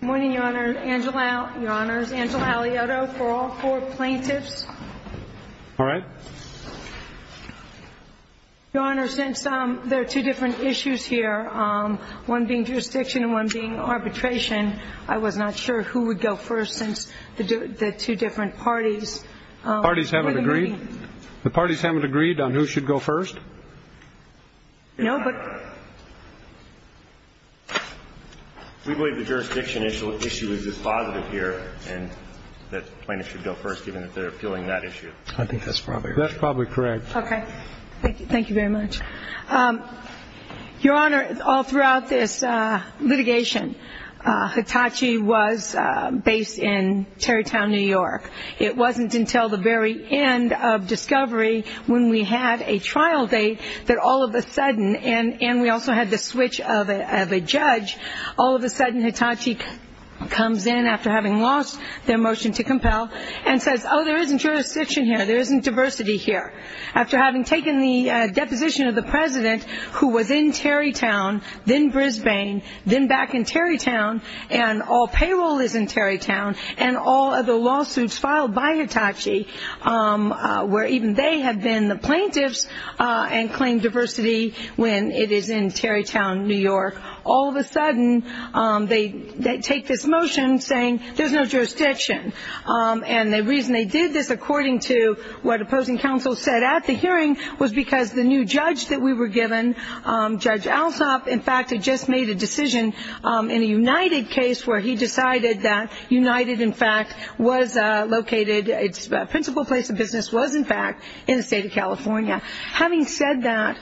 Good morning, Your Honor. Angela Alioto for all four plaintiffs. All right. Your Honor, since there are two different issues here, one being jurisdiction and one being arbitration, I was not sure who would go first since the two different parties. The parties haven't agreed? The parties haven't agreed on who should go first? No, but... We believe the jurisdiction issue is positive here and that plaintiffs should go first, given that they're appealing that issue. I think that's probably right. That's probably correct. Okay. Thank you very much. Your Honor, all throughout this litigation, Hitachi was based in Tarrytown, New York. It wasn't until the very end of discovery when we had a trial date that all of a sudden, and we also had the switch of a judge, all of a sudden Hitachi comes in after having lost their motion to compel and says, oh, there isn't jurisdiction here, there isn't diversity here. After having taken the deposition of the president who was in Tarrytown, then Brisbane, then back in Tarrytown, and all payroll is in Tarrytown, and all of the lawsuits filed by Hitachi, where even they have been the plaintiffs and claimed diversity when it is in Tarrytown, New York, all of a sudden they take this motion saying there's no jurisdiction. And the reason they did this, according to what opposing counsel said at the hearing, was because the new judge that we were given, Judge Alsop, in fact had just made a decision in a United case where he decided that United, in fact, was located, its principal place of business was, in fact, in the state of California. Having said that,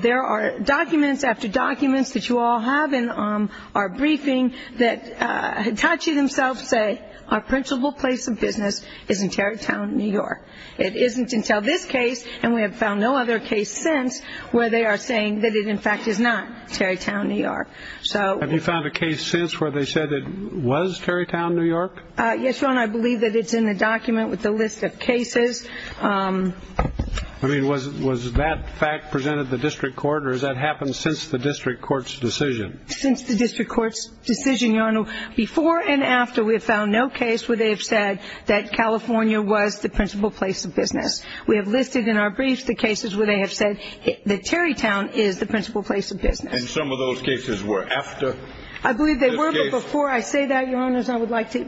there are documents after documents that you all have in our briefing that Hitachi themselves say our principal place of business is in Tarrytown, New York. It isn't until this case, and we have found no other case since, where they are saying that it, in fact, is not Tarrytown, New York. Have you found a case since where they said it was Tarrytown, New York? Yes, Your Honor, I believe that it's in the document with the list of cases. I mean, was that fact presented to the district court, or has that happened since the district court's decision? Since the district court's decision, Your Honor. Before and after we have found no case where they have said that California was the principal place of business. We have listed in our briefs the cases where they have said that Tarrytown is the principal place of business. And some of those cases were after this case? I believe they were, but before I say that, Your Honors, I would like to,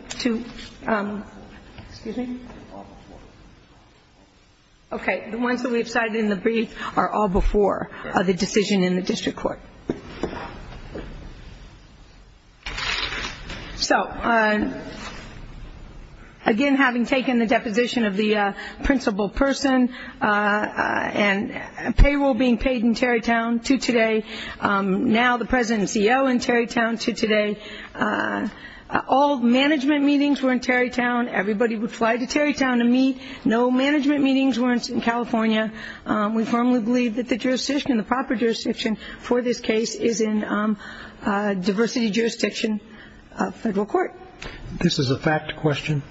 excuse me. Okay, the ones that we have cited in the brief are all before the decision in the district court. So, again, having taken the deposition of the principal person and payroll being paid in Tarrytown to today, now the president and CEO in Tarrytown to today, all management meetings were in Tarrytown. Everybody would fly to Tarrytown to meet. No management meetings were in California. We firmly believe that the jurisdiction, the proper jurisdiction for this case is in diversity jurisdiction federal court. This is a fact question?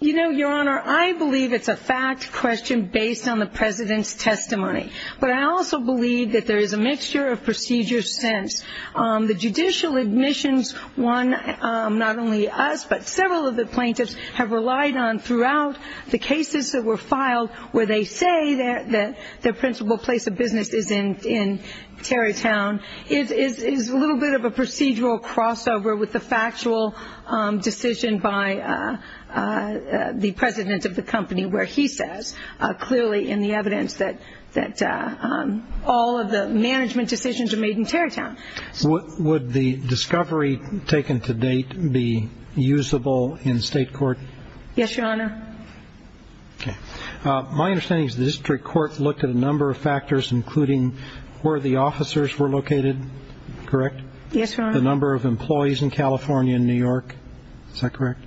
You know, Your Honor, I believe it's a fact question based on the president's testimony. But I also believe that there is a mixture of procedures since. The judicial admissions, one, not only us, but several of the plaintiffs have relied on throughout the cases that were filed where they say that their principal place of business is in Tarrytown, is a little bit of a procedural crossover with the factual decision by the president of the company, where he says clearly in the evidence that all of the management decisions are made in Tarrytown. Would the discovery taken to date be usable in state court? Yes, Your Honor. My understanding is the district court looked at a number of factors, including where the officers were located, correct? Yes, Your Honor. The number of employees in California and New York. Is that correct?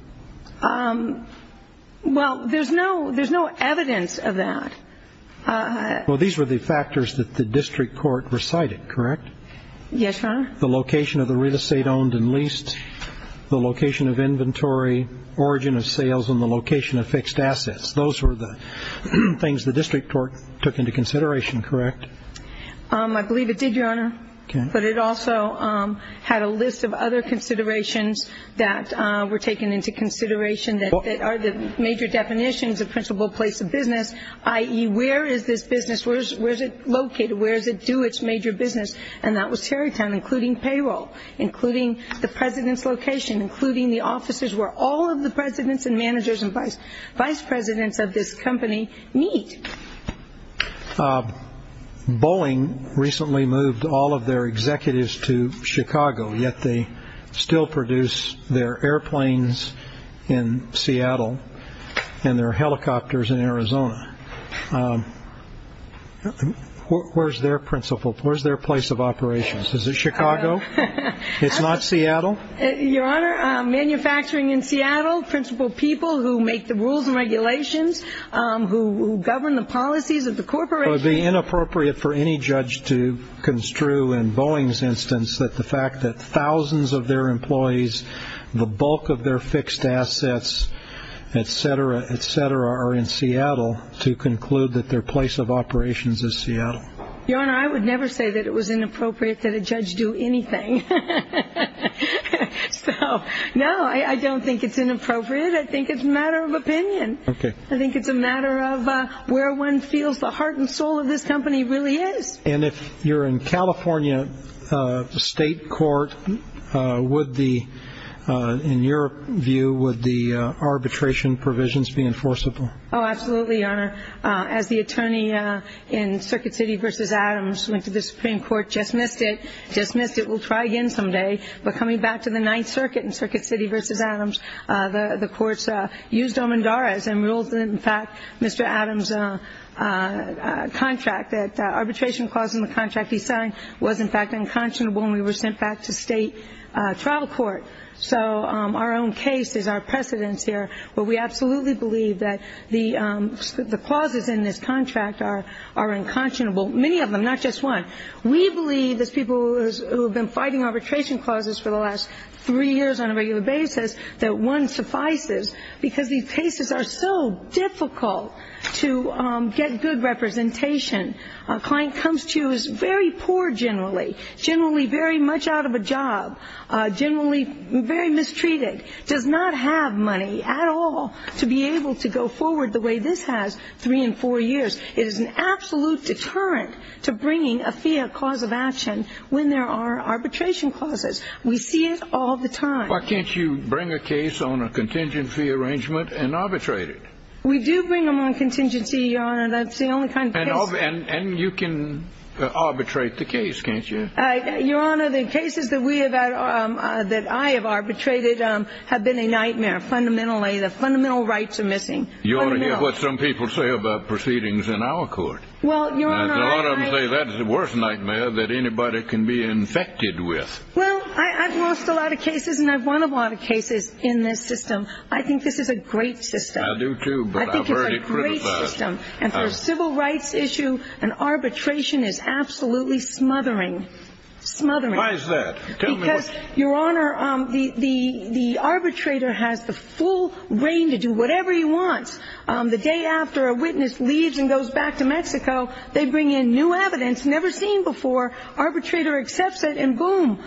Well, there's no evidence of that. Well, these were the factors that the district court recited, correct? Yes, Your Honor. The location of the real estate owned and leased, the location of inventory, origin of sales, and the location of fixed assets. Those were the things the district court took into consideration, correct? I believe it did, Your Honor. But it also had a list of other considerations that were taken into consideration that are the major definitions of principal place of business, i.e., where is this business? Where is it located? Where does it do its major business? And that was Tarrytown, including payroll, including the president's location, including the offices where all of the presidents and managers and vice presidents of this company meet. Bowling recently moved all of their executives to Chicago, yet they still produce their airplanes in Seattle and their helicopters in Arizona. Where is their principal? Where is their place of operations? Is it Chicago? It's not Seattle? Your Honor, manufacturing in Seattle, principal people who make the rules and regulations, who govern the policies of the corporation. It would be inappropriate for any judge to construe in Boeing's instance that the fact that thousands of their employees, the bulk of their fixed assets, et cetera, et cetera, are in Seattle to conclude that their place of operations is Seattle. Your Honor, I would never say that it was inappropriate that a judge do anything. So, no, I don't think it's inappropriate. I think it's a matter of opinion. Okay. I think it's a matter of where one feels the heart and soul of this company really is. And if you're in California state court, would the, in your view, would the arbitration provisions be enforceable? Oh, absolutely, Your Honor. As the attorney in Circuit City v. Adams went to the Supreme Court, dismissed it, dismissed it, we'll try again someday, but coming back to the Ninth Circuit in Circuit City v. Adams, the courts used Omandaris and ruled that, in fact, Mr. Adams' contract, that arbitration clause in the contract he signed was, in fact, unconscionable and we were sent back to state trial court. So our own case is our precedence here, but we absolutely believe that the clauses in this contract are unconscionable, many of them, not just one. We believe as people who have been fighting arbitration clauses for the last three years on a regular basis that one suffices because these cases are so difficult to get good representation. A client comes to you who is very poor generally, generally very much out of a job, generally very mistreated, does not have money at all to be able to go forward the way this has three and four years. It is an absolute deterrent to bringing a fiat cause of action when there are arbitration clauses. We see it all the time. Why can't you bring a case on a contingency arrangement and arbitrate it? We do bring them on contingency, Your Honor. That's the only kind of case. And you can arbitrate the case, can't you? Your Honor, the cases that I have arbitrated have been a nightmare fundamentally. The fundamental rights are missing. You ought to hear what some people say about proceedings in our court. Well, Your Honor, I... A lot of them say that is the worst nightmare that anybody can be infected with. Well, I've lost a lot of cases and I've won a lot of cases in this system. I think this is a great system. I do, too, but I've already criticized... I think it's a great system. And for a civil rights issue, an arbitration is absolutely smothering, smothering. Why is that? Tell me what... Because, Your Honor, the arbitrator has the full reign to do whatever he wants. The day after a witness leaves and goes back to Mexico, they bring in new evidence never seen before. Arbitrator accepts it and boom.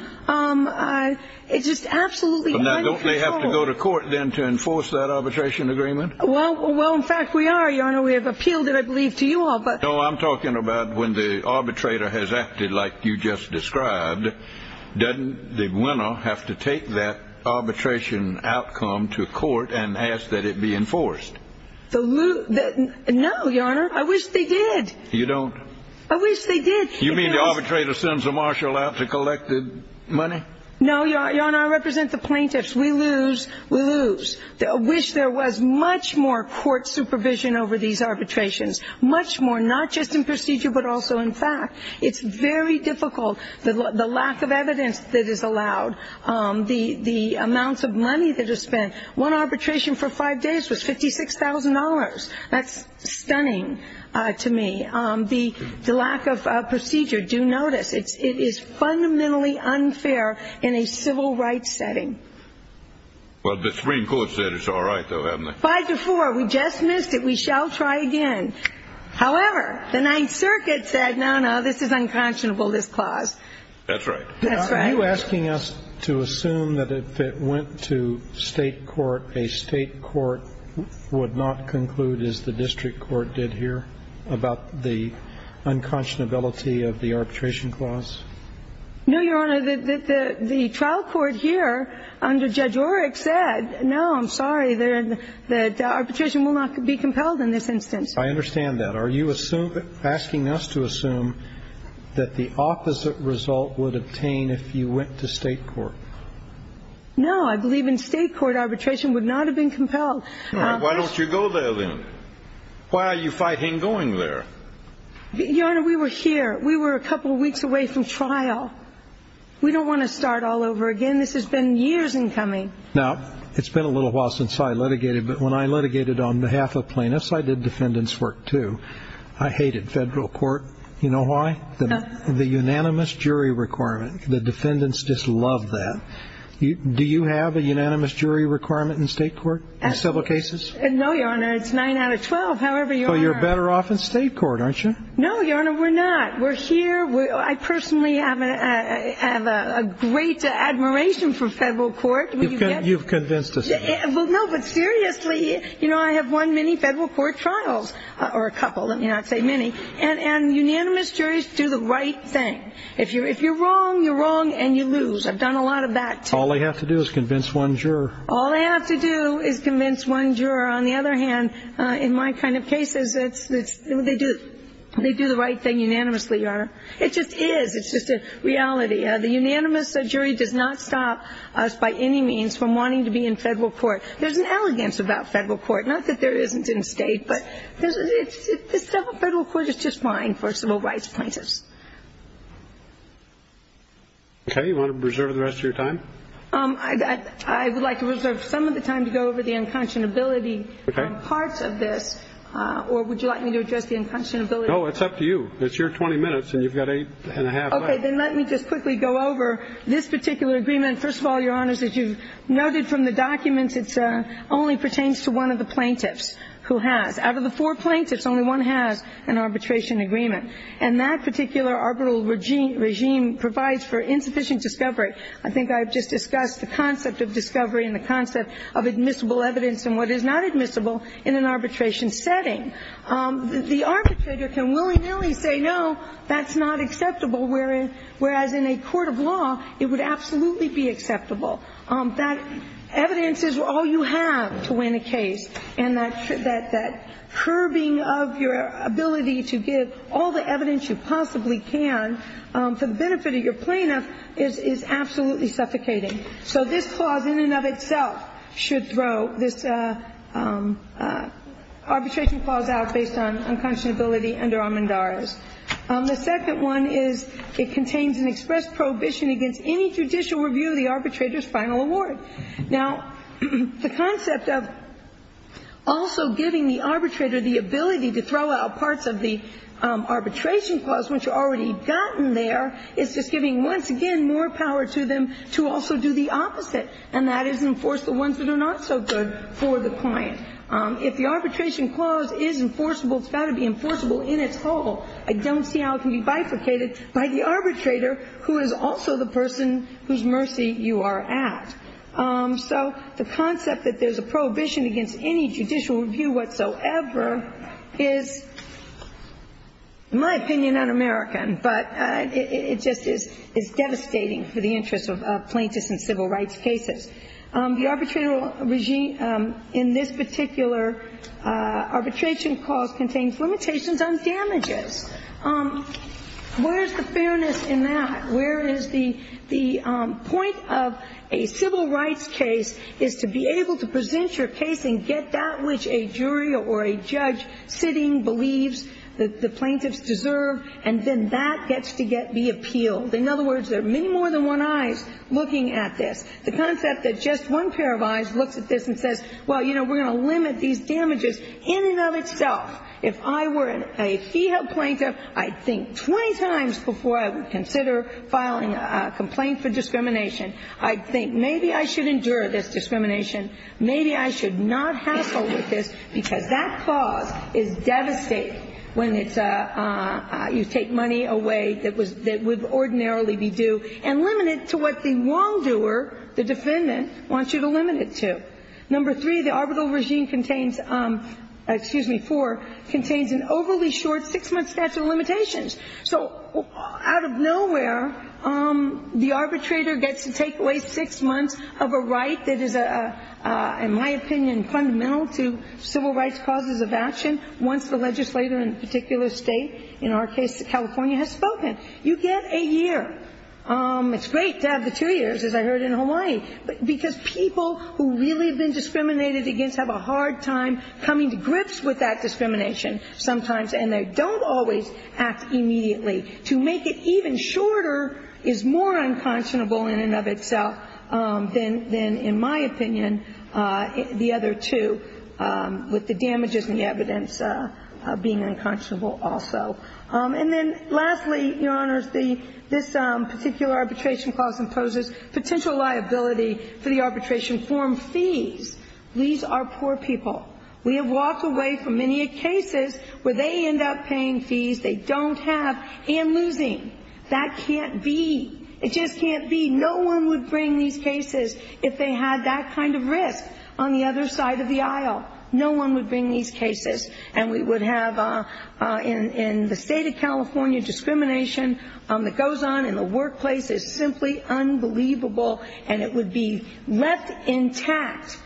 It's just absolutely out of control. Don't they have to go to court then to enforce that arbitration agreement? Well, in fact, we are, Your Honor. We have appealed it, I believe, to you all. No, I'm talking about when the arbitrator has acted like you just described, doesn't the winner have to take that arbitration outcome to court and ask that it be enforced? No, Your Honor. I wish they did. You don't? I wish they did. You mean the arbitrator sends a marshal out to collect the money? No, Your Honor, I represent the plaintiffs. We lose, we lose. I wish there was much more court supervision over these arbitrations, much more, not just in procedure but also in fact. It's very difficult. The lack of evidence that is allowed, the amounts of money that is spent. One arbitration for five days was $56,000. That's stunning to me. And the lack of procedure, do notice, it is fundamentally unfair in a civil rights setting. Well, the Supreme Court said it's all right, though, haven't they? Five to four. We just missed it. We shall try again. However, the Ninth Circuit said, no, no, this is unconscionable, this clause. That's right. That's right. Are you asking us to assume that if it went to state court, a state court would not conclude as the district court did here about the unconscionability of the arbitration clause? No, Your Honor. The trial court here under Judge Oreck said, no, I'm sorry, that arbitration will not be compelled in this instance. I understand that. Are you asking us to assume that the opposite result would obtain if you went to state court? No, I believe in state court arbitration would not have been compelled. All right. Why don't you go there, then? Why are you fighting going there? Your Honor, we were here. We were a couple of weeks away from trial. We don't want to start all over again. This has been years in coming. Now, it's been a little while since I litigated, but when I litigated on behalf of plaintiffs, I did defendants' work, too. I hated federal court. You know why? The unanimous jury requirement, the defendants just love that. Do you have a unanimous jury requirement in state court in several cases? No, Your Honor. It's 9 out of 12, however you are. So you're better off in state court, aren't you? No, Your Honor, we're not. We're here. I personally have a great admiration for federal court. You've convinced us of that. No, but seriously, I have won many federal court trials, or a couple, let me not say many, and unanimous juries do the right thing. If you're wrong, you're wrong, and you lose. I've done a lot of that, too. All they have to do is convince one juror. All they have to do is convince one juror. On the other hand, in my kind of cases, they do the right thing unanimously, Your Honor. It just is. It's just a reality. The unanimous jury does not stop us by any means from wanting to be in federal court. There's an elegance about federal court, not that there isn't in state, but federal court is just fine for civil rights plaintiffs. Okay. You want to reserve the rest of your time? I would like to reserve some of the time to go over the unconscionability parts of this, or would you like me to address the unconscionability? No, it's up to you. It's your 20 minutes, and you've got eight and a half left. Okay. Then let me just quickly go over this particular agreement. First of all, Your Honors, as you've noted from the documents, it only pertains to one of the plaintiffs who has. Out of the four plaintiffs, only one has an arbitration agreement, and that particular arbitral regime provides for insufficient discovery. I think I've just discussed the concept of discovery and the concept of admissible evidence and what is not admissible in an arbitration setting. The arbitrator can willy-nilly say, no, that's not acceptable, whereas in a court of law, it would absolutely be acceptable. That evidence is all you have to win a case, and that curbing of your ability to give all the evidence you possibly can for the benefit of your plaintiff is absolutely suffocating. So this clause in and of itself should throw this arbitration clause out based on unconscionability under Armendariz. The second one is it contains an express prohibition against any judicial review of the arbitrator's final award. Now, the concept of also giving the arbitrator the ability to throw out parts of the arbitration clause which are already gotten there is just giving once again more power to them to also do the opposite, and that is enforce the ones that are not so good for the client. If the arbitration clause is enforceable, it's got to be enforceable in its whole. I don't see how it can be bifurcated by the arbitrator who is also the person whose mercy you are at. So the concept that there's a prohibition against any judicial review whatsoever is, in my opinion, un-American, but it just is devastating for the interest of plaintiffs in civil rights cases. The arbitration regime in this particular arbitration clause contains limitations on damages. Where is the fairness in that? Where is the point of a civil rights case is to be able to present your case and get that which a jury or a judge sitting believes that the plaintiffs deserve, and then that gets to be appealed. In other words, there are many more than one eyes looking at this. The concept that just one pair of eyes looks at this and says, well, you know, we're going to limit these damages in and of itself. If I were a fee help plaintiff, I'd think 20 times before I would consider filing a complaint for discrimination, I'd think maybe I should endure this discrimination, maybe I should not hassle with this, because that clause is devastating when it's a you take money away that would ordinarily be due and limit it to what the wrongdoer, the defendant, wants you to limit it to. Number three, the arbitral regime contains, excuse me, four, contains an overly short six-month statute of limitations. So out of nowhere, the arbitrator gets to take away six months of a right that is, in my opinion, fundamental to civil rights causes of action once the legislator in a particular state, in our case California, has spoken. You get a year. It's great to have the two years, as I heard in Hawaii, because people who really have been discriminated against have a hard time coming to grips with that discrimination sometimes, and they don't always act immediately. To make it even shorter is more unconscionable in and of itself than, in my opinion, the other two, with the damages and the evidence being unconscionable also. And then lastly, Your Honors, this particular arbitration clause imposes potential liability for the arbitration form fees. These are poor people. We have walked away from many a cases where they end up paying fees they don't have and losing. That can't be. It just can't be. No one would bring these cases if they had that kind of risk on the other side of the aisle. No one would bring these cases, and we would have in the state of California, discrimination that goes on in the workplace. It's simply unbelievable, and it would be left intact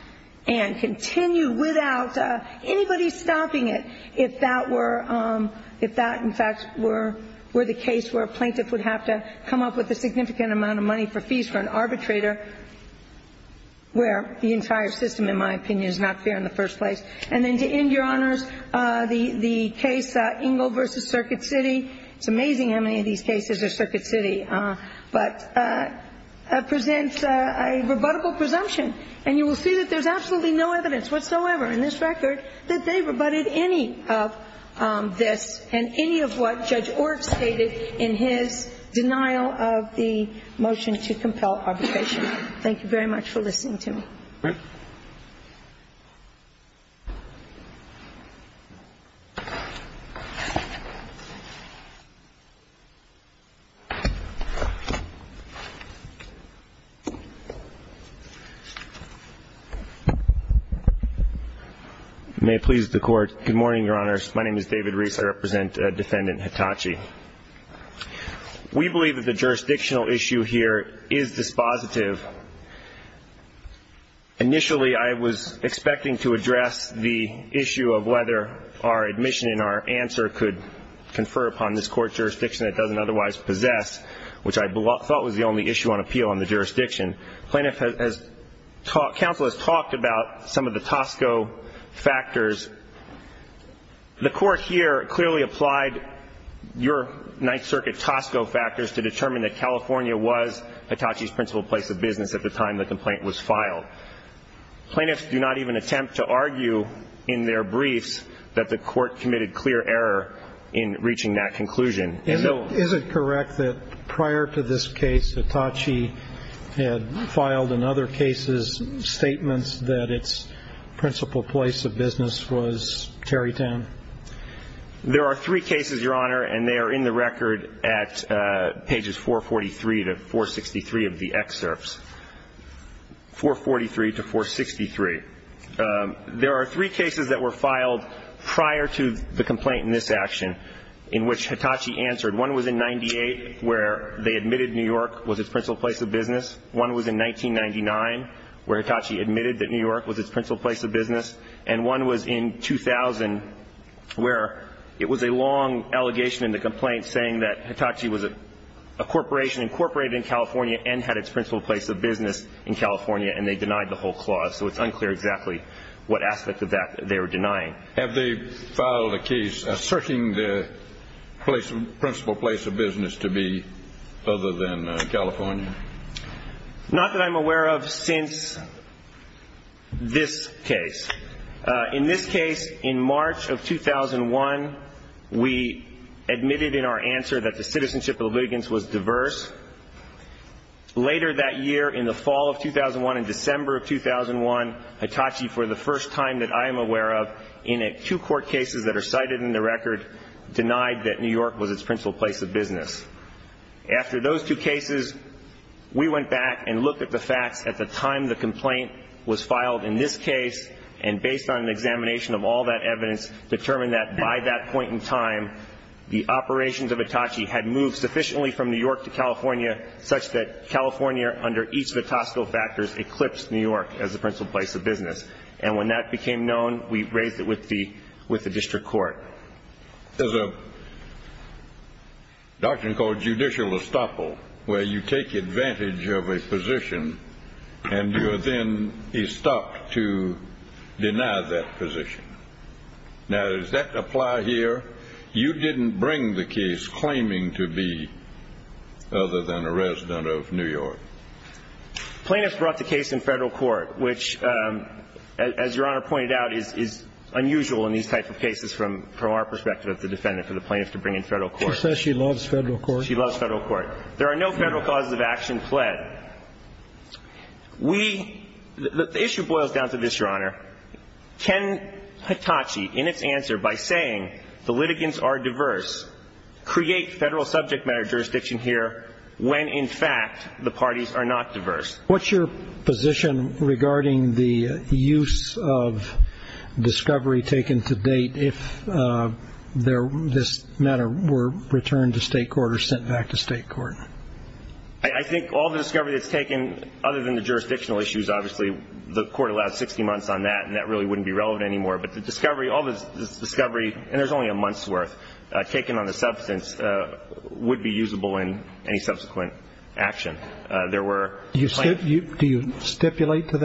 and continue without anybody stopping it if that were the case where a plaintiff would have to come up with a significant amount of money for fees for an arbitrator where the entire system, in my opinion, is not fair in the first place. And then to end, Your Honors, the case Engel v. Circuit City, it's amazing how many of these cases are Circuit City, but presents a rebuttable presumption. And you will see that there's absolutely no evidence whatsoever in this record that they rebutted any of this and any of what Judge Orr stated in his denial of the motion to compel arbitration. Thank you very much for listening to me. Thank you. May it please the Court. Good morning, Your Honors. My name is David Reese. I represent Defendant Hitachi. We believe that the jurisdictional issue here is dispositive. Initially, I was expecting to address the issue of whether our admission and our answer could confer upon this Court's jurisdiction that it doesn't otherwise possess, which I thought was the only issue on appeal on the jurisdiction. Counsel has talked about some of the Tosco factors. The Court here clearly applied your Ninth Circuit Tosco factors to determine that California was Hitachi's principal place of business at the time the complaint was filed. Plaintiffs do not even attempt to argue in their briefs that the Court committed clear error in reaching that conclusion. Is it correct that prior to this case, Hitachi had filed in other cases statements that its principal place of business was Tarrytown? There are three cases, Your Honor, and they are in the record at pages 443 to 463 of the excerpts. 443 to 463. There are three cases that were filed prior to the complaint in this action in which Hitachi answered. One was in 98, where they admitted New York was its principal place of business. One was in 1999, where Hitachi admitted that New York was its principal place of business. And one was in 2000, where it was a long allegation in the complaint saying that Hitachi was a corporation incorporated in California and had its principal place of business in California, and they denied the whole clause. So it's unclear exactly what aspect of that they were denying. Have they filed a case asserting the principal place of business to be other than California? Not that I'm aware of since this case. In this case, in March of 2001, we admitted in our answer that the citizenship litigants was diverse. Later that year, in the fall of 2001 and December of 2001, Hitachi, for the first time that I am aware of, in two court cases that are cited in the record, denied that New York was its principal place of business. After those two cases, we went back and looked at the facts at the time the complaint was filed in this case, and based on an examination of all that evidence, determined that by that point in time, the operations of California, such that California, under each of the Tosco factors, eclipsed New York as the principal place of business. And when that became known, we raised it with the district court. There's a doctrine called judicial estoppel, where you take advantage of a position and you are then estopped to deny that position. Now, does that apply here? You didn't bring the case claiming to be other than a resident of New York. Plaintiff brought the case in federal court, which, as Your Honor pointed out, is unusual in these types of cases from our perspective as the defendant, for the plaintiff to bring in federal court. She said she loves federal court. She loves federal court. There are no federal causes of action fled. The issue boils down to this, Your Honor. Can Hitachi, in its answer, by saying the litigants are diverse, create federal subject matter jurisdiction here when, in fact, the parties are not diverse? What's your position regarding the use of discovery taken to date if this matter were returned to state court or sent back to state court? I think all the discovery that's taken, other than the jurisdictional issues, obviously, the court allowed 60 months on that, and that really wouldn't be relevant anymore. But the discovery, all the discovery, and there's only a month's worth taken on the substance, would be usable in any subsequent action. Do you stipulate to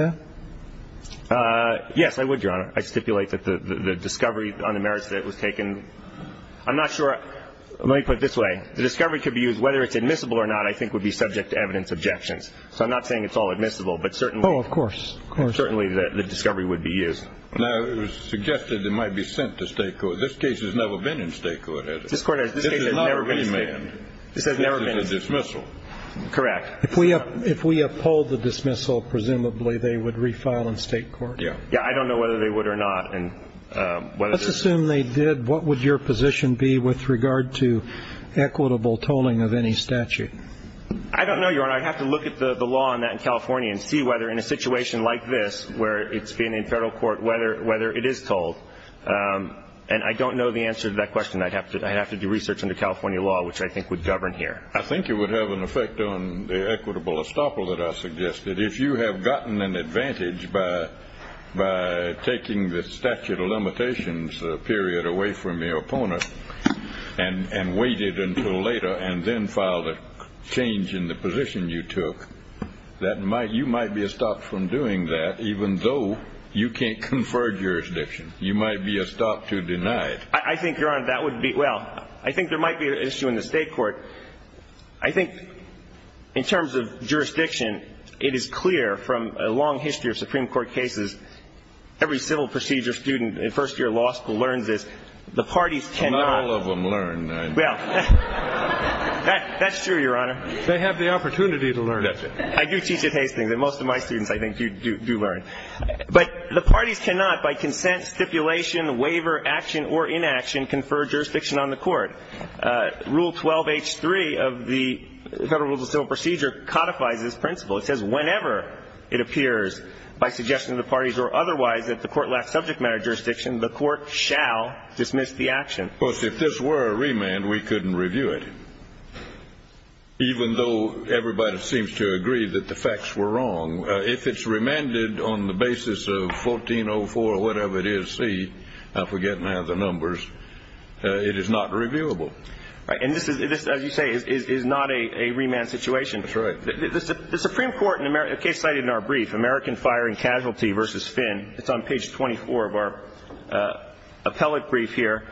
that? Yes, I would, Your Honor. I stipulate that the discovery on the merits that it was taken. I'm not sure. Let me put it this way. The discovery could be used, whether it's admissible or not, I think would be subject to evidence objections. So I'm not saying it's all admissible, but certainly. Oh, of course, of course. Certainly the discovery would be used. Now, it was suggested it might be sent to state court. This case has never been in state court, has it? This court has never been sent. This has never been sent. This is a dismissal. Correct. If we uphold the dismissal, presumably they would refile in state court? Yeah. Yeah, I don't know whether they would or not. Let's assume they did. What would your position be with regard to equitable tolling of any statute? I don't know, Your Honor. I'd have to look at the law on that in California and see whether in a situation like this, where it's being in federal court, whether it is tolled. And I don't know the answer to that question. I'd have to do research into California law, which I think would govern here. I think it would have an effect on the equitable estoppel that I suggested. If you have gotten an advantage by taking the statute of limitations period away from your opponent and waited until later and then filed a change in the position you took, you might be estopped from doing that, even though you can't confer jurisdiction. You might be estopped to deny it. I think, Your Honor, that would be – well, I think there might be an issue in the state court. I think in terms of jurisdiction, it is clear from a long history of Supreme Court cases, every civil procedure student in first year law school learns this. The parties cannot – Well, not all of them learn. Well, that's true, Your Honor. They have the opportunity to learn it. I do teach at Hastings, and most of my students, I think, do learn. But the parties cannot, by consent, stipulation, waiver, action or inaction, confer jurisdiction on the court. Rule 12H3 of the Federal Rules of Civil Procedure codifies this principle. It says whenever it appears by suggestion of the parties or otherwise that the court lacks subject matter jurisdiction, the court shall dismiss the action. Of course, if this were a remand, we couldn't review it, even though everybody seems to agree that the facts were wrong. If it's remanded on the basis of 1404 or whatever it is C, I forget now the numbers, it is not reviewable. Right. And this, as you say, is not a remand situation. That's right. The Supreme Court in a case cited in our brief, American Fire and Casualty v. Finn, it's on page 24 of our appellate brief here.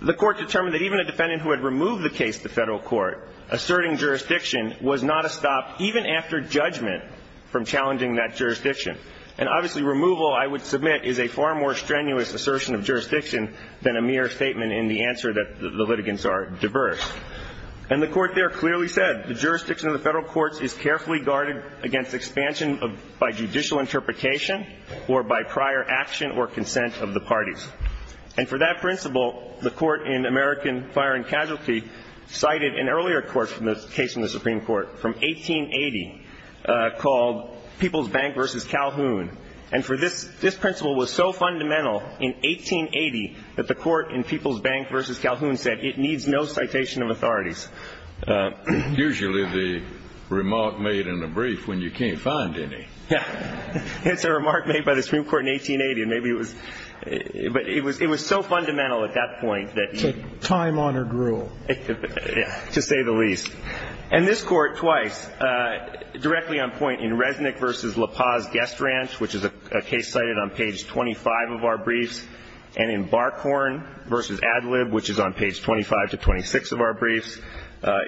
The court determined that even a defendant who had removed the case to federal court asserting jurisdiction was not a stop even after judgment from challenging that jurisdiction. And obviously removal, I would submit, is a far more strenuous assertion of jurisdiction than a mere statement in the answer that the litigants are diverse. And the court there clearly said the jurisdiction of the federal courts is carefully guarded against expansion by judicial interpretation or by prior action or consent of the parties. And for that principle, the court in American Fire and Casualty cited an earlier case from the Supreme Court from 1880 called People's Bank v. Calhoun. And for this, this principle was so fundamental in 1880 that the court in People's Bank v. Calhoun said it needs no citation of authorities. Usually the remark made in a brief when you can't find any. Yeah. It's a remark made by the Supreme Court in 1880, and maybe it was – but it was so fundamental at that point that you – It's a time-honored rule. Yeah, to say the least. And this Court twice, directly on point in Resnick v. LaPaz Guest Ranch, which is a case cited on page 25 of our briefs, and in Barkhorn v. Adlib, which is on page 25 to 26 of our briefs,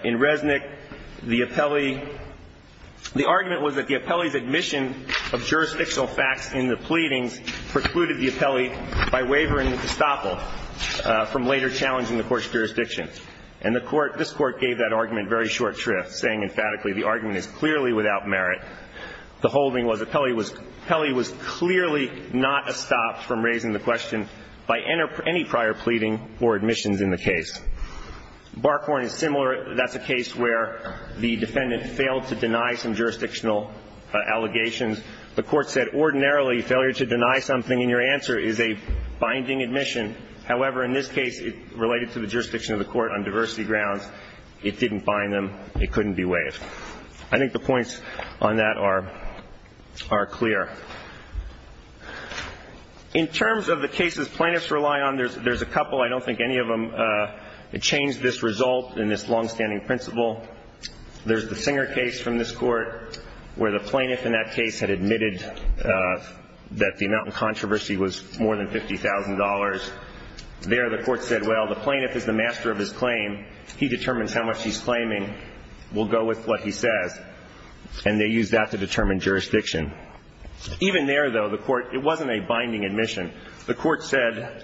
in Resnick, the appellee – the argument was that the appellee's admission of jurisdictional facts in the pleadings precluded the appellee by wavering the estoppel from later challenging the court's jurisdiction. And the court – this Court gave that argument very short shrift, saying emphatically the argument is clearly without merit. The holding was appellee was – appellee was clearly not estopped from raising the question by any prior pleading or admissions in the case. Barkhorn is similar. That's a case where the defendant failed to deny some jurisdictional allegations. The court said ordinarily failure to deny something in your answer is a binding admission. However, in this case, it related to the jurisdiction of the court on diversity grounds. It didn't bind them. It couldn't be waived. I think the points on that are – are clear. In terms of the cases plaintiffs rely on, there's – there's a couple. I don't think any of them change this result in this longstanding principle. There's the Singer case from this Court where the plaintiff in that case had admitted that the amount in controversy was more than $50,000. There, the court said, well, the plaintiff is the master of his claim. He determines how much he's claiming. We'll go with what he says. And they used that to determine jurisdiction. Even there, though, the court – it wasn't a binding admission. The court said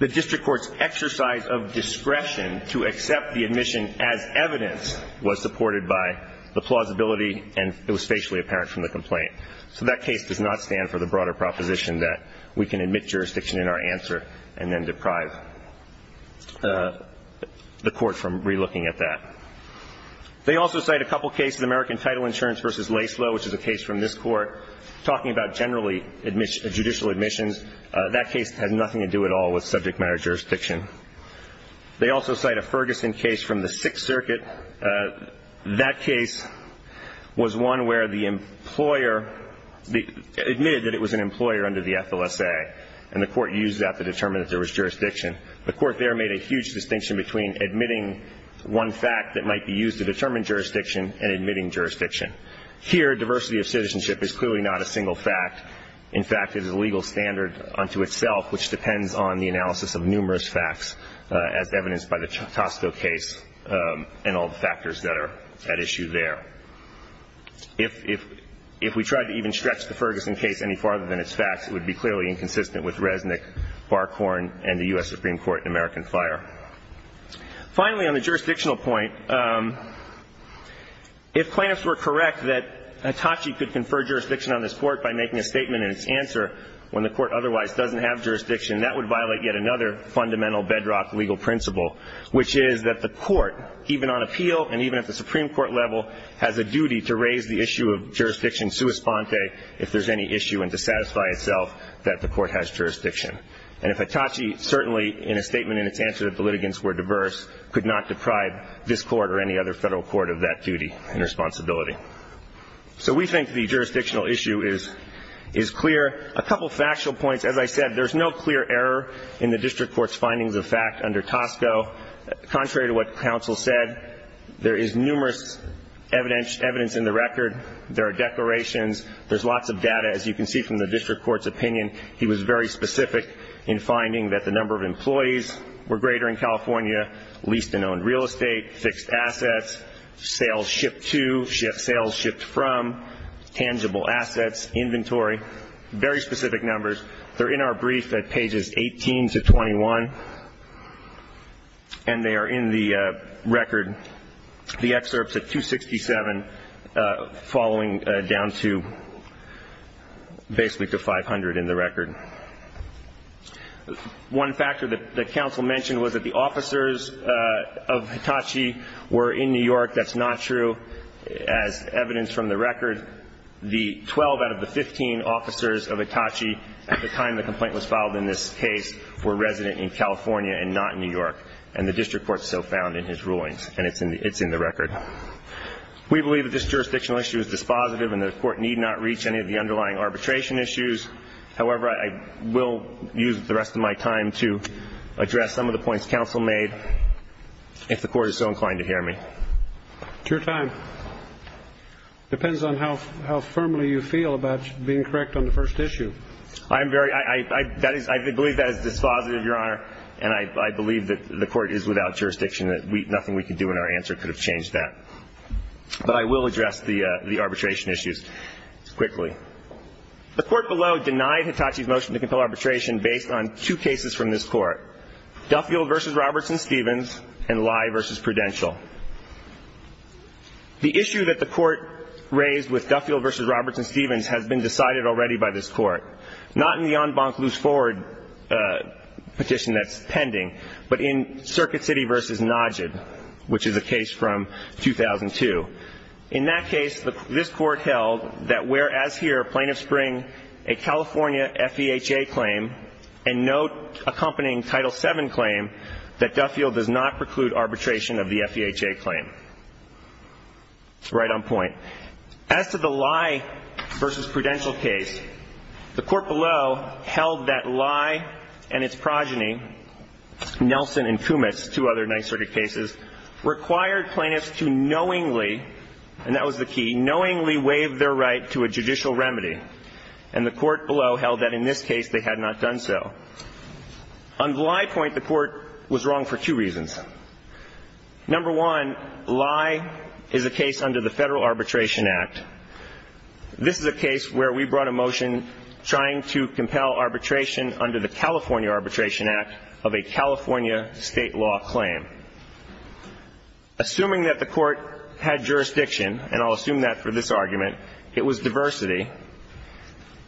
the district court's exercise of discretion to accept the admission as evidence was supported by the plausibility and it was facially apparent from the complaint. So that case does not stand for the broader proposition that we can admit jurisdiction in our answer and then deprive the court from relooking at that. They also cite a couple cases, American Title Insurance v. Laslo, which is a case from this Court, talking about generally judicial admissions. That case has nothing to do at all with subject matter jurisdiction. They also cite a Ferguson case from the Sixth Circuit. That case was one where the employer – admitted that it was an employer under the FLSA and the court used that to determine that there was jurisdiction. The court there made a huge distinction between admitting one fact that might be used to determine jurisdiction and admitting jurisdiction. Here, diversity of citizenship is clearly not a single fact. In fact, it is a legal standard unto itself, which depends on the analysis of numerous facts, as evidenced by the Costco case and all the factors that are at issue there. If we tried to even stretch the Ferguson case any farther than its facts, it would be clearly inconsistent with Resnick, Barkhorn, and the U.S. Supreme Court in American Fire. Finally, on the jurisdictional point, if plaintiffs were correct that Hitachi could confer jurisdiction on this Court by making a statement in its answer when the Court otherwise doesn't have jurisdiction, that would violate yet another fundamental bedrock legal principle, which is that the Court, even on appeal and even at the Supreme Court level, has a duty to raise the issue of jurisdiction sua sponte if there's any issue and to satisfy itself that the Court has jurisdiction. And if Hitachi certainly, in a statement in its answer that the litigants were diverse, could not deprive this Court or any other federal court of that duty and responsibility. So we think the jurisdictional issue is clear. A couple of factual points. As I said, there's no clear error in the district court's findings of fact under Costco. Contrary to what counsel said, there is numerous evidence in the record. There are declarations. There's lots of data. As you can see from the district court's opinion, he was very specific in finding that the number of employees were greater in California, leased and owned real estate, fixed assets, sales shipped to, sales shipped from, tangible assets, inventory. Very specific numbers. They're in our brief at pages 18 to 21. And they are in the record, the excerpts at 267, following down to basically to 500 in the record. One factor that counsel mentioned was that the officers of Hitachi were in New York. That's not true. As evidence from the record, the 12 out of the 15 officers of Hitachi, at the time the complaint was filed in this case, were resident in California and not in New York. And the district court so found in his rulings. And it's in the record. We believe that this jurisdictional issue is dispositive and the Court need not reach any of the underlying arbitration issues. However, I will use the rest of my time to address some of the points counsel made, if the Court is so inclined to hear me. It's your time. Depends on how firmly you feel about being correct on the first issue. I believe that is dispositive, Your Honor. And I believe that the Court is without jurisdiction. Nothing we can do in our answer could have changed that. But I will address the arbitration issues quickly. The Court below denied Hitachi's motion to compel arbitration based on two cases from this Court, Duffield v. Robertson-Stevens and Lye v. Prudential. The issue that the Court raised with Duffield v. Robertson-Stevens has been decided already by this Court, not in the en banc loose forward petition that's pending, but in Circuit City v. Nodged, which is a case from 2002. In that case, this Court held that whereas here plaintiffs bring a California FEHA claim and no accompanying Title VII claim, that Duffield does not preclude arbitration of the FEHA claim. Right on point. As to the Lye v. Prudential case, the Court below held that Lye and its progeny, Nelson and Kumitz, two other NYSERDA cases, required plaintiffs to knowingly, and that was the key, knowingly waive their right to a judicial remedy. And the Court below held that in this case they had not done so. On the Lye point, the Court was wrong for two reasons. Number one, Lye is a case under the Federal Arbitration Act. This is a case where we brought a motion trying to compel arbitration under the California Arbitration Act of a California state law claim. Assuming that the Court had jurisdiction, and I'll assume that for this argument, it was diversity,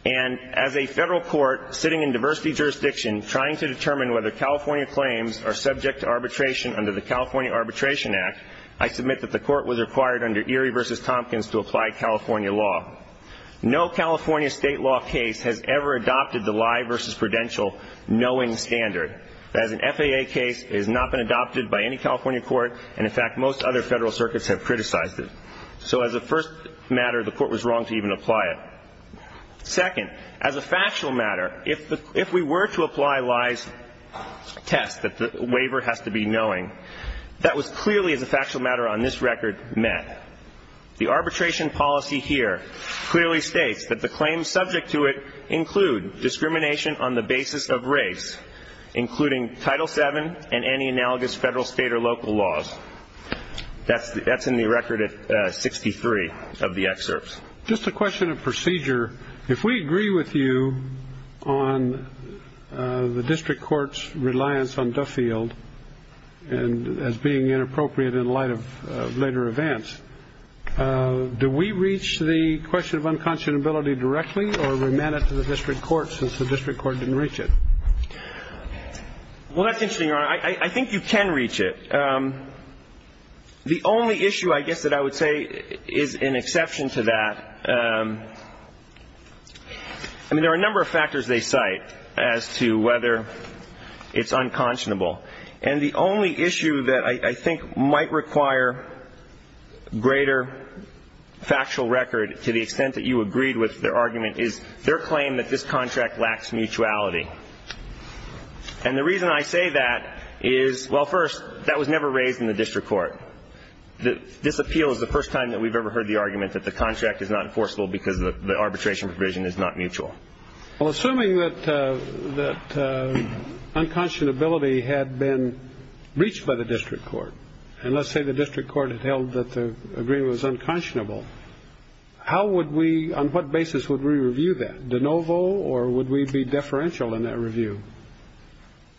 and as a Federal court sitting in diversity jurisdiction trying to determine whether California claims are subject to arbitration under the California Arbitration Act, I submit that the Court was required under Erie v. Tompkins to apply California law. No California state law case has ever adopted the Lye v. Prudential knowing standard. That is, an FEHA case has not been adopted by any California court, and, in fact, most other Federal circuits have criticized it. So as a first matter, the Court was wrong to even apply it. Second, as a factual matter, if we were to apply Lye's test that the waiver has to be knowing, that was clearly, as a factual matter on this record, met. The arbitration policy here clearly states that the claims subject to it include discrimination on the basis of race, including Title VII and any analogous Federal, state, or local laws. That's in the record at 63 of the excerpts. Just a question of procedure. If we agree with you on the district court's reliance on Duffield as being inappropriate in light of later events, do we reach the question of unconscionability directly or remand it to the district court since the district court didn't reach it? Well, that's interesting, Your Honor. I think you can reach it. The only issue, I guess, that I would say is an exception to that. I mean, there are a number of factors they cite as to whether it's unconscionable. And the only issue that I think might require greater factual record to the extent that you agreed with their argument is their claim that this contract lacks mutuality. And the reason I say that is, well, first, that was never raised in the district court. This appeal is the first time that we've ever heard the argument that the contract is not enforceable because the arbitration provision is not mutual. Well, assuming that unconscionability had been reached by the district court, and let's say the district court had held that the agreement was unconscionable, how would we, on what basis would we review that? De novo, or would we be deferential in that review?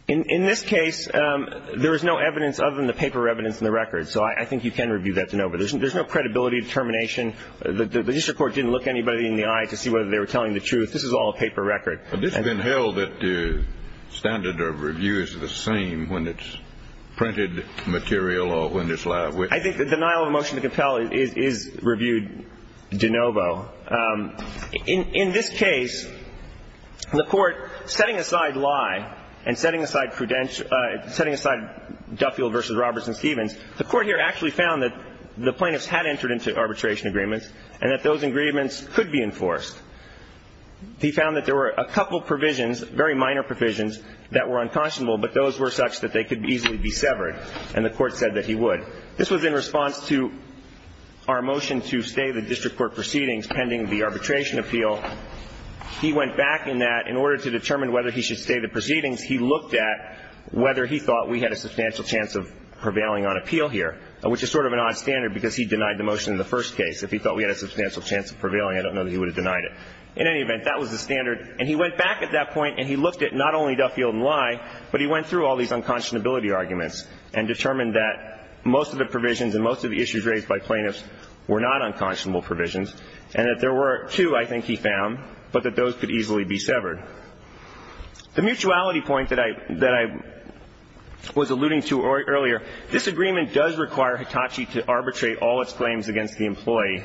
In this case, there is no evidence other than the paper evidence in the record, so I think you can review that de novo. There's no credibility determination. The district court didn't look anybody in the eye to see whether they were telling the truth. This is all a paper record. But this has been held that the standard of review is the same when it's printed material or when it's live witness. I think the denial of a motion to compel is reviewed de novo. In this case, the Court, setting aside lie and setting aside Duffield v. Roberts and Stevens, the Court here actually found that the plaintiffs had entered into arbitration agreements and that those agreements could be enforced. He found that there were a couple provisions, very minor provisions, that were unconscionable, but those were such that they could easily be severed, and the Court said that he would. This was in response to our motion to stay the district court proceedings pending the arbitration appeal. He went back in that. In order to determine whether he should stay the proceedings, he looked at whether he thought we had a substantial chance of prevailing on appeal here, which is sort of an odd standard because he denied the motion in the first case. If he thought we had a substantial chance of prevailing, I don't know that he would have denied it. In any event, that was the standard, and he went back at that point and he looked at not only Duffield and lie, but he went through all these unconscionability arguments and determined that most of the provisions and most of the issues raised by plaintiffs were not unconscionable provisions and that there were two, I think, he found, but that those could easily be severed. The mutuality point that I was alluding to earlier, this agreement does require Hitachi to arbitrate all its claims against the employee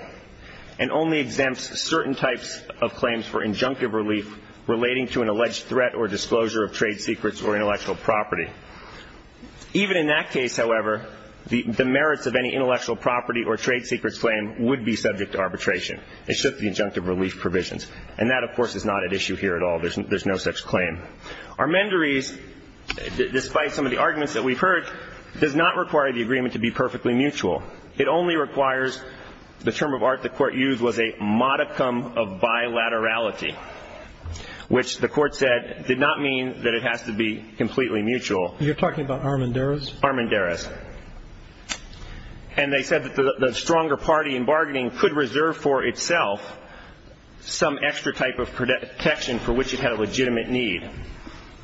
and only exempts certain types of claims for injunctive relief relating to an alleged threat or disclosure of trade secrets or intellectual property. Even in that case, however, the merits of any intellectual property or trade secrets claim would be subject to arbitration. It should be injunctive relief provisions. And that, of course, is not at issue here at all. There's no such claim. Armendariz, despite some of the arguments that we've heard, does not require the agreement to be perfectly mutual. It only requires the term of art the Court used was a modicum of bilaterality, which the Court said did not mean that it has to be completely mutual. You're talking about Armendariz? Armendariz. And they said that the stronger party in bargaining could reserve for itself some extra type of protection for which it had a legitimate need.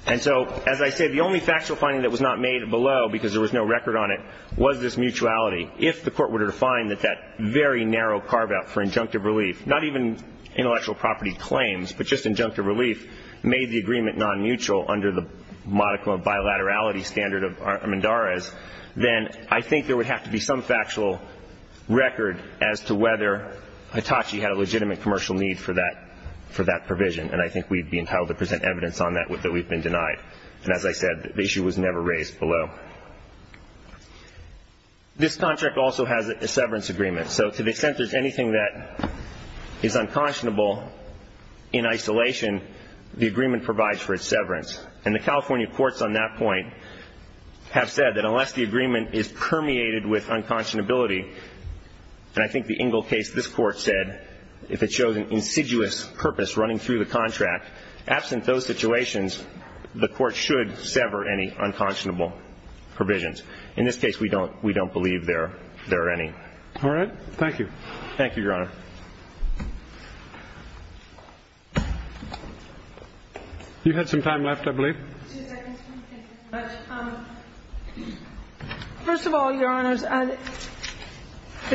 And so, as I said, the only factual finding that was not made below, because there was no record on it, was this mutuality. If the Court were to find that that very narrow carve-out for injunctive relief, not even intellectual property claims but just injunctive relief, made the agreement non-mutual under the modicum of bilaterality standard of Armendariz, then I think there would have to be some factual record as to whether Hitachi had a legitimate commercial need for that provision. And I think we'd be entitled to present evidence on that that we've been denied. And as I said, the issue was never raised below. This contract also has a severance agreement. So to the extent there's anything that is unconscionable in isolation, the agreement provides for its severance. And the California courts on that point have said that unless the agreement is permeated with unconscionability, and I think the Ingle case, this Court said, if it shows an insidious purpose running through the contract, absent those situations, the Court should sever any unconscionable provisions. In this case, we don't believe there are any. All right. Thank you. Thank you, Your Honor. You had some time left, I believe. Two seconds. First of all, Your Honors, the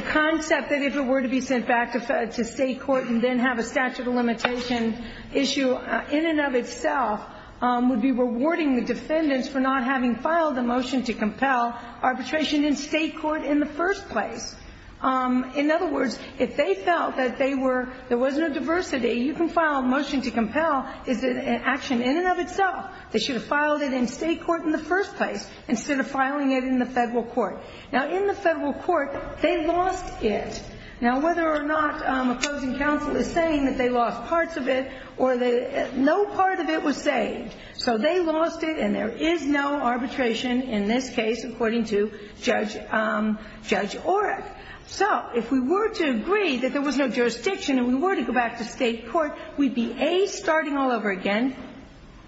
concept that if it were to be sent back to State limitation issue in and of itself would be rewarding the defendants for not having filed the motion to compel arbitration in State court in the first place. In other words, if they felt that there was no diversity, you can file a motion to compel is an action in and of itself. They should have filed it in State court in the first place instead of filing it in the Federal court. Now, in the Federal court, they lost it. Now, whether or not opposing counsel is saying that they lost parts of it or that no part of it was saved. So they lost it, and there is no arbitration in this case according to Judge Oreck. So if we were to agree that there was no jurisdiction and we were to go back to State court, we'd be, A, starting all over again.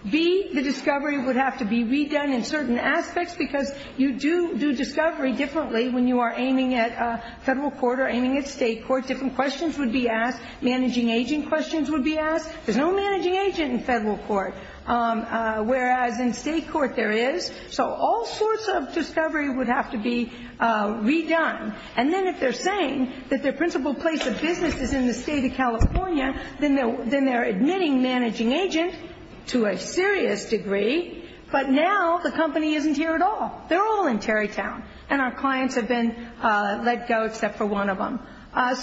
B, the discovery would have to be redone in certain aspects because you do discovery differently when you are aiming at Federal court or aiming at State court. Different questions would be asked. Managing agent questions would be asked. There's no managing agent in Federal court, whereas in State court there is. So all sorts of discovery would have to be redone. And then if they're saying that their principal place of business is in the State of California, then they're admitting managing agent to a serious degree. But now the company isn't here at all. They're all in Tarrytown. And our clients have been let go except for one of them.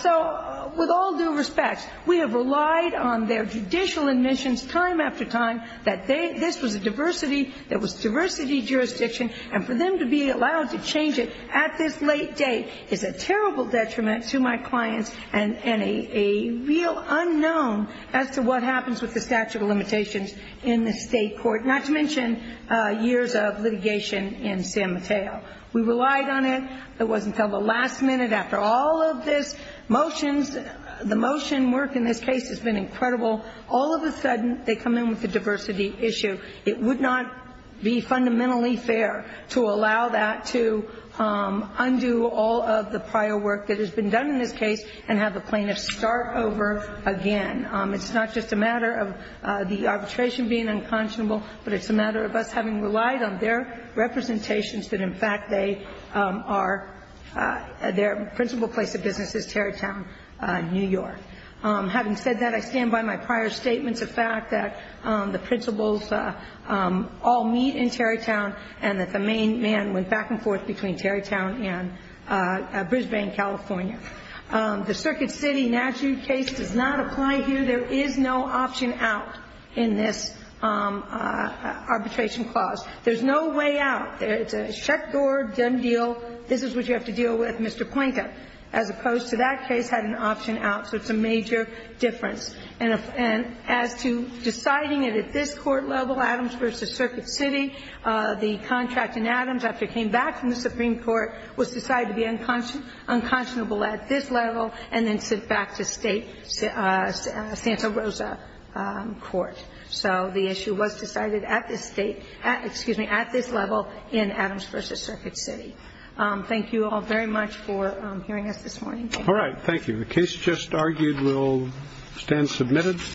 So with all due respect, we have relied on their judicial admissions time after time that this was a diversity, there was diversity jurisdiction, and for them to be allowed to change it at this late date is a terrible detriment to my clients and a real unknown as to what happens with the statute of limitations in the State court, not to mention years of litigation in San Mateo. We relied on it. It wasn't until the last minute after all of this motions, the motion work in this case has been incredible, all of a sudden they come in with a diversity issue. It would not be fundamentally fair to allow that to undo all of the prior work that has been done in this case and have the plaintiffs start over again. It's not just a matter of the arbitration being unconscionable, but it's a matter of us having relied on their representations that in fact they are, their principal place of business is Tarrytown, New York. Having said that, I stand by my prior statements of fact that the principals all meet in Tarrytown and that the main man went back and forth between Tarrytown and Brisbane, California. The Circuit City Naju case does not apply here. There is no option out in this arbitration clause. There's no way out. It's a shut door, done deal, this is what you have to deal with, Mr. Poynter, as opposed to that case had an option out, so it's a major difference. And as to deciding it at this court level, Adams v. Circuit City, the contract in Adams after it came back from the Supreme Court was decided to be unconscionable at this level and then sent back to state Santa Rosa court. So the issue was decided at this state, excuse me, at this level in Adams v. Circuit City. Thank you all very much for hearing us this morning. All right, thank you. The case just argued will stand submitted.